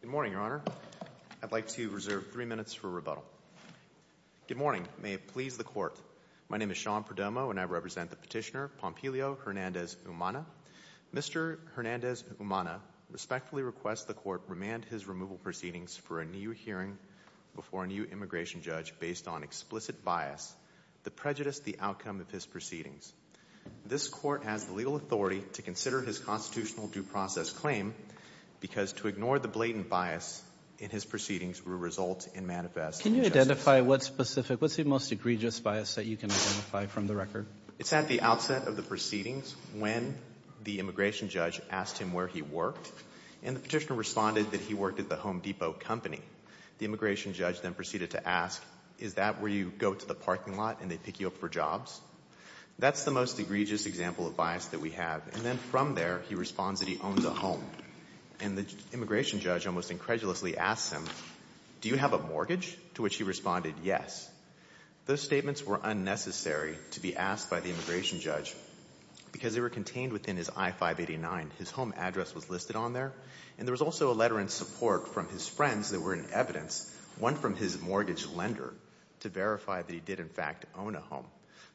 Good morning, Your Honor. I'd like to reserve three minutes for rebuttal. Good morning. May it please the Court. My name is Sean Perdomo and I represent the petitioner Pompilio Hernandez-Umana. Mr. Hernandez-Umana respectfully requests the Court remand his removal proceedings for a new hearing before a new immigration judge based on explicit bias that prejudiced the outcome of his proceedings. This Court has the legal authority to consider his constitutional due process claim because to ignore the blatant bias in his proceedings will result in manifest injustice. Can you identify what specific, what's the most egregious bias that you can identify from the record? It's at the outset of the proceedings when the immigration judge asked him where he worked and the petitioner responded that he worked at the Home Depot company. The immigration judge then proceeded to ask, is that where you go to the parking lot and they pick you up for jobs? That's the most egregious example of bias that we have and then from there he responds that he owns a home and the immigration judge almost incredulously asked him, do you have a mortgage? To which he responded, yes. Those statements were unnecessary to be asked by the immigration judge because they were contained within his I-589. His home address was listed on there and there was also a letter in support from his friends that were in evidence, one from his mortgage lender, to verify that he did in fact own a home.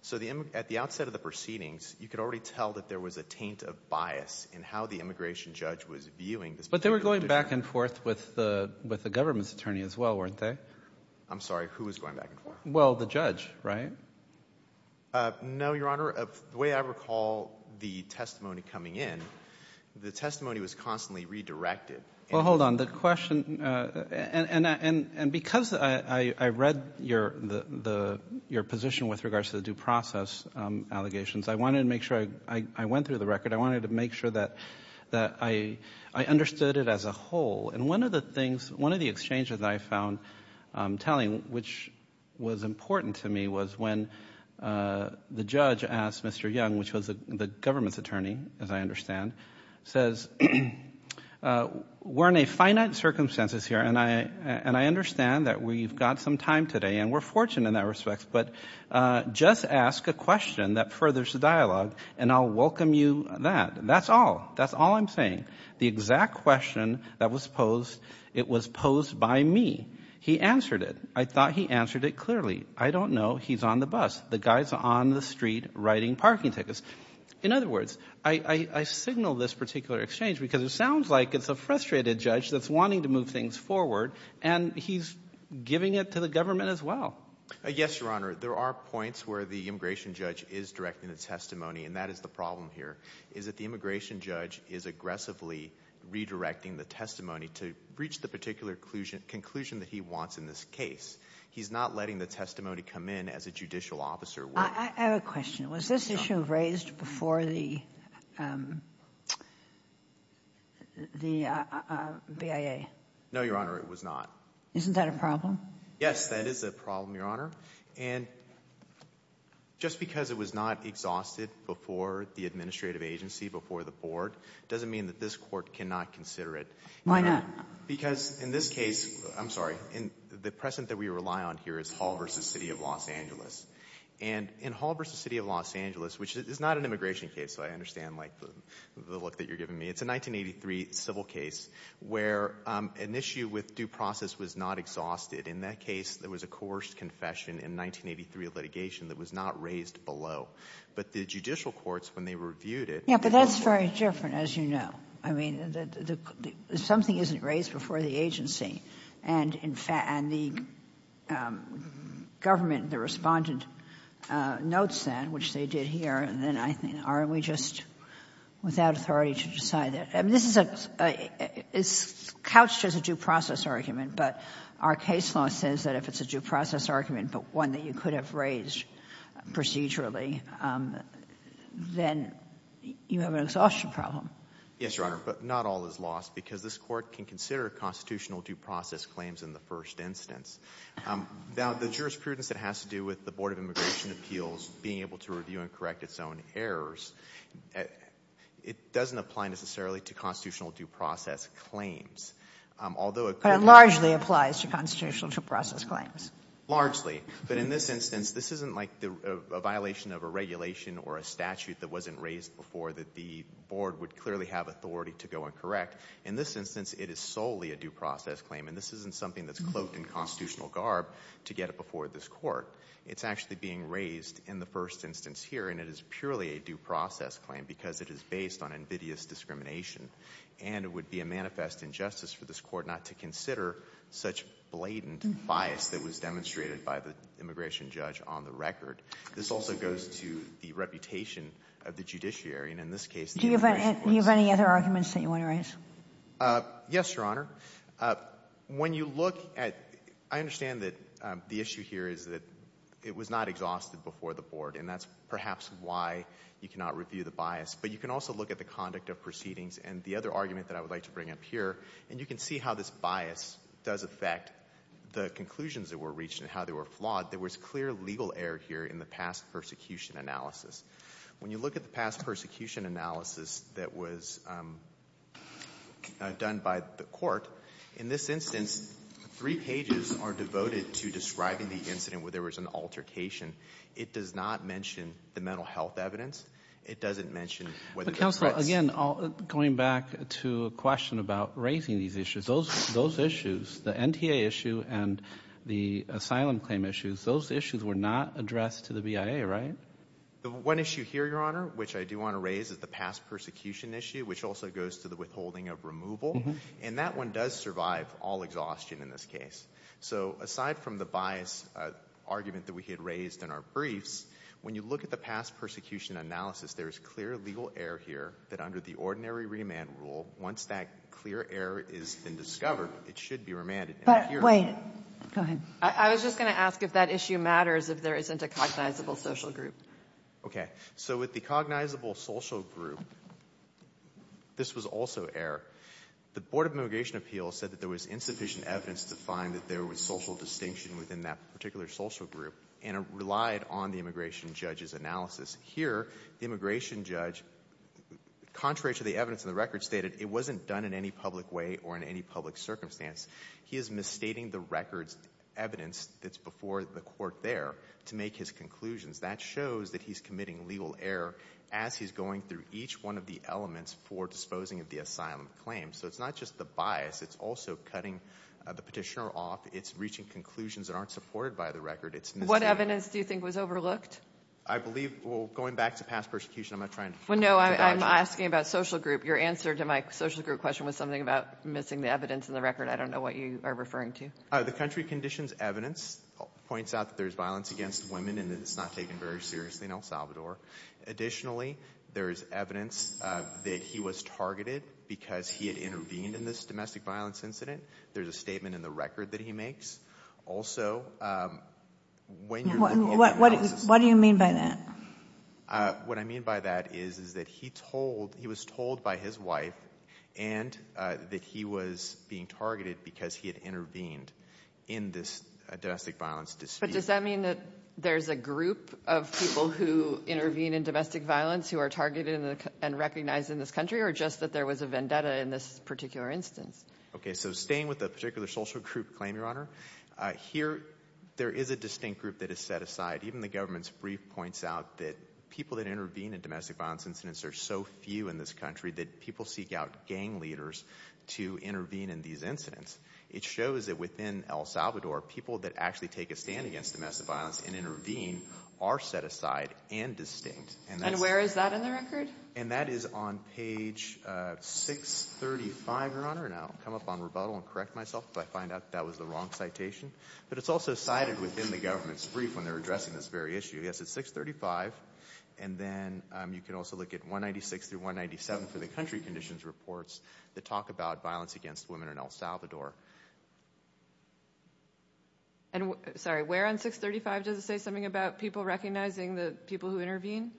So at the outset of the proceedings, you could already tell that there was a taint of bias in how the immigration judge was viewing this. But they were going back and forth with the with the government's attorney as well, weren't they? I'm sorry, who was going back and forth? Well, the judge, right? No, Your Honor. The way I recall the testimony coming in, the testimony was constantly redirected. Well, hold on, the question, and because I read your position with regards to the process allegations, I wanted to make sure, I went through the record, I wanted to make sure that that I understood it as a whole. And one of the things, one of the exchanges I found telling, which was important to me, was when the judge asked Mr. Young, which was the government's attorney, as I understand, says, we're in a finite circumstances here and I understand that we've got some time today and we're fortunate in that respect, but just ask a question that furthers the dialogue and I'll welcome you that. That's all. That's all I'm saying. The exact question that was posed, it was posed by me. He answered it. I thought he answered it clearly. I don't know. He's on the bus. The guy's on the street writing parking tickets. In other words, I signal this particular exchange because it sounds like it's a frustrated judge that's wanting to move things forward and he's giving it to the government as well. Yes, Your Honor. There are points where the immigration judge is directing the testimony and that is the problem here, is that the immigration judge is aggressively redirecting the testimony to reach the particular conclusion that he wants in this case. He's not letting the testimony come in as a judicial officer. I have a question. Was this issue raised before the BIA? No, Your Honor, it was not. Isn't that a problem? Yes, that is a problem, Your Honor, and just because it was not exhausted before the administrative agency, before the board, doesn't mean that this court cannot consider it. Why not? Because in this case, I'm sorry, in the precedent that we rely on here is Hall versus City of Los Angeles, and in Hall versus City of Los Angeles, which is not an immigration case, I understand, like, the look that you're giving me, it's a 1983 civil case where an issue with due process was not exhausted. In that case, there was a coerced confession in 1983 of litigation that was not raised below, but the judicial courts, when they reviewed it... Yeah, but that's very different, as you know. I mean, something isn't raised before the agency, and in fact, and the government, the Respondent, notes that, which they did here, and then I think, aren't we just without authority to decide that? I mean, this is a — it's couched as a due process argument, but our case law says that if it's a due process argument, but one that you could have raised procedurally, then you have an exhaustion problem. Yes, Your Honor, but not all is lost, because this court can consider constitutional due process claims in the first instance. Now, the jurisprudence that has to do with the Board of Immigration Appeals being able to review and correct its own errors, it doesn't apply necessarily to constitutional due process claims, although... But it largely applies to constitutional due process claims. Largely, but in this instance, this isn't like a violation of a regulation or a statute that wasn't raised before that the Board would clearly have authority to go and correct. In this instance, it is solely a due process claim, and this isn't something that's cloaked in constitutional garb to get it before this court. It's actually being raised in the first instance here, and it is purely a due process claim because it is based on invidious discrimination, and it would be a manifest injustice for this court not to consider such blatant bias that was demonstrated by the immigration judge on the record. This also goes to the reputation of the judiciary, and in this case... Do you have any other arguments that you want to raise? Yes, Your Honor. When you look at... I understand that the issue here is that it was not exhausted before the Board, and that's perhaps why you cannot review the bias, but you can also look at the conduct of proceedings and the other argument that I would like to bring up here, and you can see how this bias does affect the conclusions that were reached and how they were flawed. There was clear legal error here in the past persecution analysis. When you look at the past persecution analysis that was done by the court, in this instance, three pages are devoted to describing the incident where there was an altercation. It does not mention the mental health evidence. It doesn't mention whether... Counselor, again, going back to a question about raising these issues, those issues, the NTA issue and the asylum claim issues, those issues were not addressed to the BIA, right? The one issue here, Your Honor, which I do want to raise is the past persecution issue, which also goes to the withholding of removal, and that one does survive all exhaustion in this case. So aside from the bias argument that we had raised in our briefs, when you look at the past persecution analysis, there is clear legal error here that under the ordinary remand rule, once that clear error is then discovered, it should be remanded. But wait. Go ahead. I was just going to ask if that issue matters if there isn't a cognizable social group. Okay. So with the cognizable social group, this was also error. The Board of Immigration Appeals said that there was insufficient evidence to find that there was social distinction within that particular social group, and it relied on the immigration judge's analysis. Here, the immigration judge, contrary to the evidence in the record, stated it wasn't done in any public way or in any public circumstance. He is misstating the records evidence that's before the court there to make his conclusions. That shows that he's committing legal error as he's going through each one of the elements for disposing of the asylum claims. So it's not just the bias. It's also cutting the petitioner off. It's reaching conclusions that aren't supported by the record. It's misstating. What evidence do you think was overlooked? I believe, well, going back to past persecution, I'm not trying to... Well, no. I'm asking about social group. Your answer to my social group question was something about missing the evidence in the record. I don't know what you are referring to. The country conditions evidence points out that there's violence against women and that it's not taken very seriously in El Salvador. Additionally, there is evidence that he was targeted because he had intervened in this domestic violence incident. There's a statement in the record that he makes. Also... What do you mean by that? What I mean by that is that he told, he was told by his wife and that he was being targeted because he had intervened in this domestic violence dispute. But does that mean that there's a group of people who intervene in domestic violence who are targeted and recognized in this country or just that there was a vendetta in this particular instance? Okay. So staying with the particular social group claim, Your Honor, here there is a distinct group that is set aside. Even the government's brief points out that people that intervene in domestic violence incidents are so few in this country that people seek out gang leaders to intervene in these incidents. It shows that within El Salvador, people that actually take a stand against domestic violence and intervene are set aside and distinct. And where is that in the record? And that is on page 635, Your Honor, and I'll come up on rebuttal and correct myself if I find out that was the wrong citation. But it's also cited within the government's brief when they're addressing this very issue. Yes, it's 635. And then you can also look at 196 through 197 for the country conditions reports that talk about violence against women in El Salvador. And, sorry, where on 635 does it say something about people recognizing the people who intervene?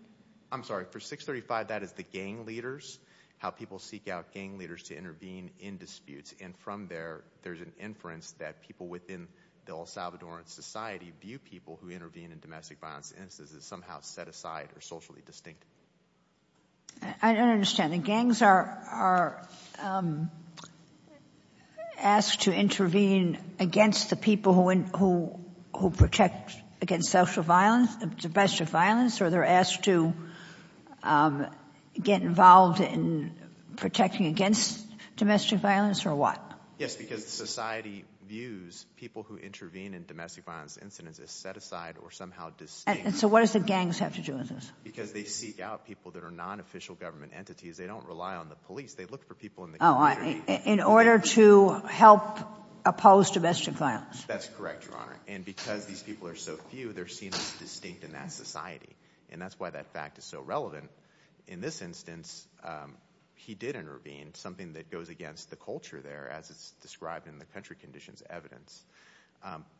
I'm sorry, for 635 that is the gang leaders, how people seek out gang leaders to intervene in disputes. And from there, there's an inference that people within the El Salvadoran society view people who intervene in domestic violence incidents as somehow set aside or socially distinct. I don't understand. The gangs are asked to intervene against the people who protect against social violence, domestic violence, or they're asked to get involved in protecting against domestic violence or what? Yes, because the society views people who intervene in domestic violence incidents as set aside or somehow distinct. And so what does the gangs have to do with this? Because they seek out people that are non-official government entities. They don't rely on the police. They look for people in the community. In order to help oppose domestic violence? That's correct, Your Honor. And because these people are so few, they're seen as distinct in that society. And that's why that fact is so relevant. In this instance, he did intervene, something that goes against the culture there, as it's described in the country conditions evidence.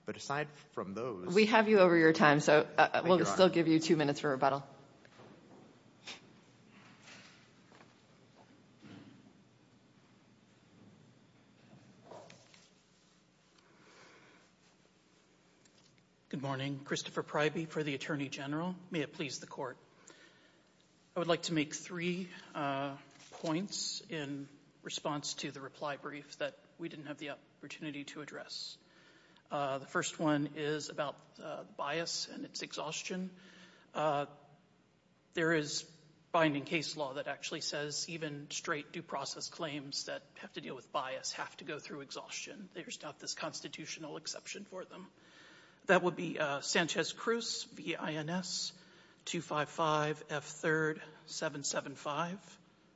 But aside from those... We have you over your time, so we'll still give you two minutes for rebuttal. Good morning. Christopher Pryby for the Attorney General. May it please the Court. I would like to make three points in response to the reply brief that we didn't have the opportunity to address. The first one is about bias and its exhaustion. There is binding case law that actually says even straight due process claims that have to deal with bias have to go through exhaustion. There's not this constitutional exception for them. That would be Sanchez Cruz, V.I.N.S. 255 F. 3rd 775,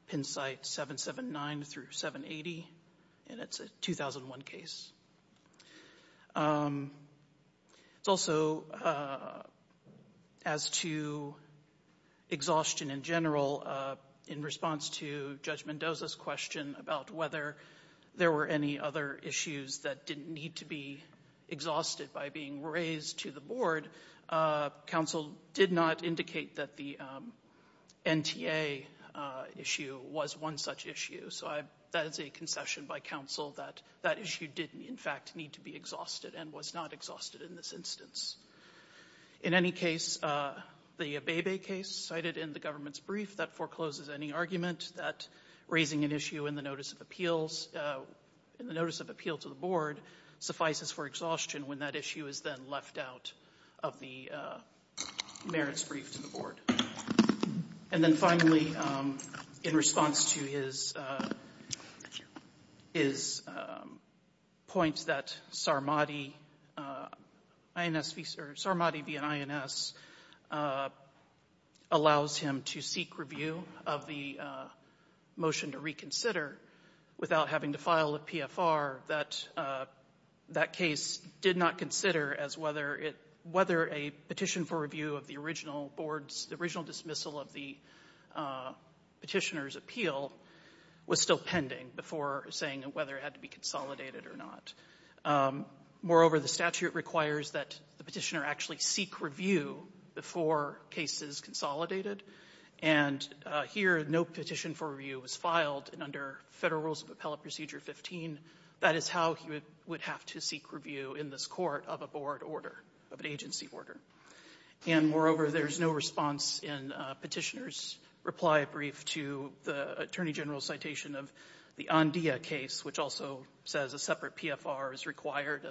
Penn site 779 through 780, and it's a 2001 case. It's also as to exhaustion in general, in response to Judge Mendoza's question about whether there were any other issues that didn't need to be exhausted by being raised to the board. Counsel did not indicate that the NTA issue was one such issue, so I that is a concession by counsel that that issue didn't in fact need to be exhausted and was not exhausted in this instance. In any case, the Abebe case cited in the government's brief that forecloses any argument that raising an issue in the notice of appeals in the notice of appeal to the board suffices for exhaustion when that issue is then left out of the merits brief to the board. And then finally, in response to his his points that Sarmadi V.I.N.S. allows him to seek review of the motion to reconsider without having to file a case did not consider as whether it whether a petition for review of the original boards, the original dismissal of the petitioner's appeal was still pending before saying whether it had to be consolidated or not. Moreover, the statute requires that the petitioner actually seek review before case is consolidated and here no petition for review was filed under Federal Rules of Appellate Procedure 15. That is how he would have to seek review in this court of a board order, of an agency order. And moreover, there's no response in petitioner's reply brief to the Attorney General's citation of the Andea case, which also says a separate PFR is required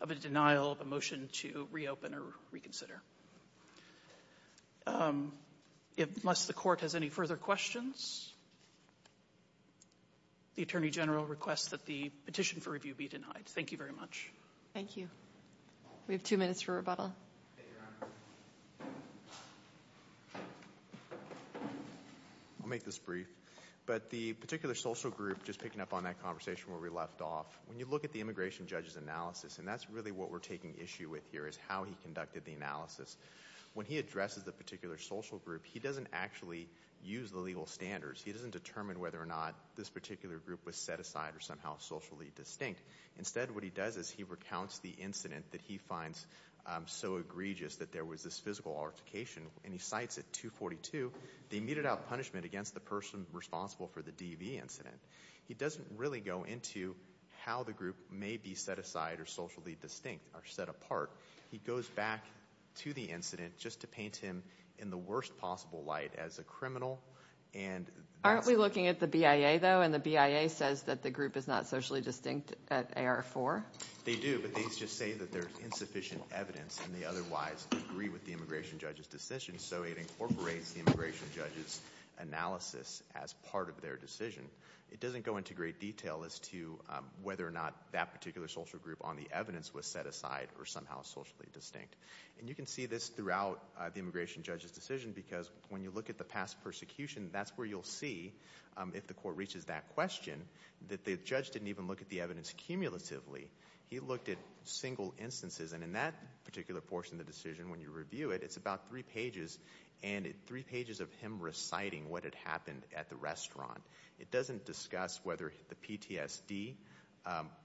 of a denial of a motion to reopen or reconsider. Unless the court has any further questions, the Attorney General requests that the petition for review be denied. Thank you very much. Thank you. We have two minutes for rebuttal. I'll make this brief, but the particular social group just picking up on that conversation where we left off, when you look at the immigration judge's analysis, and that's really what we're taking issue with here is how he conducted the analysis. When he addresses the particular social group, he doesn't actually use the legal standards. He doesn't determine whether or not this particular group was set aside or somehow socially distinct. Instead, what he does is he recounts the incident that he finds so egregious that there was this physical altercation and he cites it 242, the immediate out punishment against the person responsible for the DV incident. He doesn't really go into how the group may be set aside or socially distinct or set apart. He goes back to the incident just to paint him in the worst possible light as a criminal. Aren't we looking at the BIA though, and the BIA says that the group is not socially distinct at AR-4? They do, but these just say that there's insufficient evidence and they otherwise agree with the immigration judge's decision, so it incorporates the immigration judge's analysis as part of their decision. It doesn't go into great detail as to whether or not that particular social group on the evidence was set aside or somehow socially distinct. You can see this throughout the immigration judge's decision because when you look at the past persecution, that's where you'll see, if the court reaches that question, that the judge didn't even look at the evidence cumulatively. He looked at single instances and in that particular portion of the decision, when you review it, it's about three pages and three pages of him reciting what had happened at the restaurant. It doesn't discuss whether the PTSD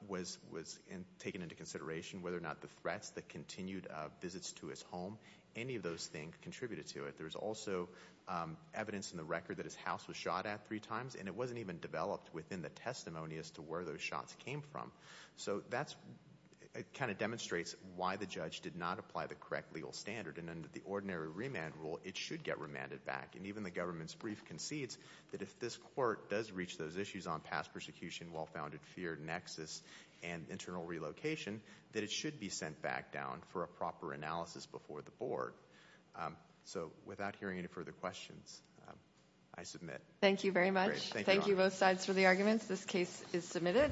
was taken into consideration, whether or not the threats, the continued visits to his home, any of those things contributed to it. There's also evidence in the record that his house was shot at three times and it wasn't even developed within the testimony as to where those shots came from, so that kind of demonstrates why the judge did not apply the correct legal standard and under the ordinary remand rule, it should get remanded back and even the government's brief concedes that if this court does reach those issues on past persecution, well-founded fear, nexus, and internal relocation, that it should be sent back down for a proper analysis before the board. So without hearing any further questions, I submit. Thank you very much. Thank you both sides for the arguments. This case is submitted.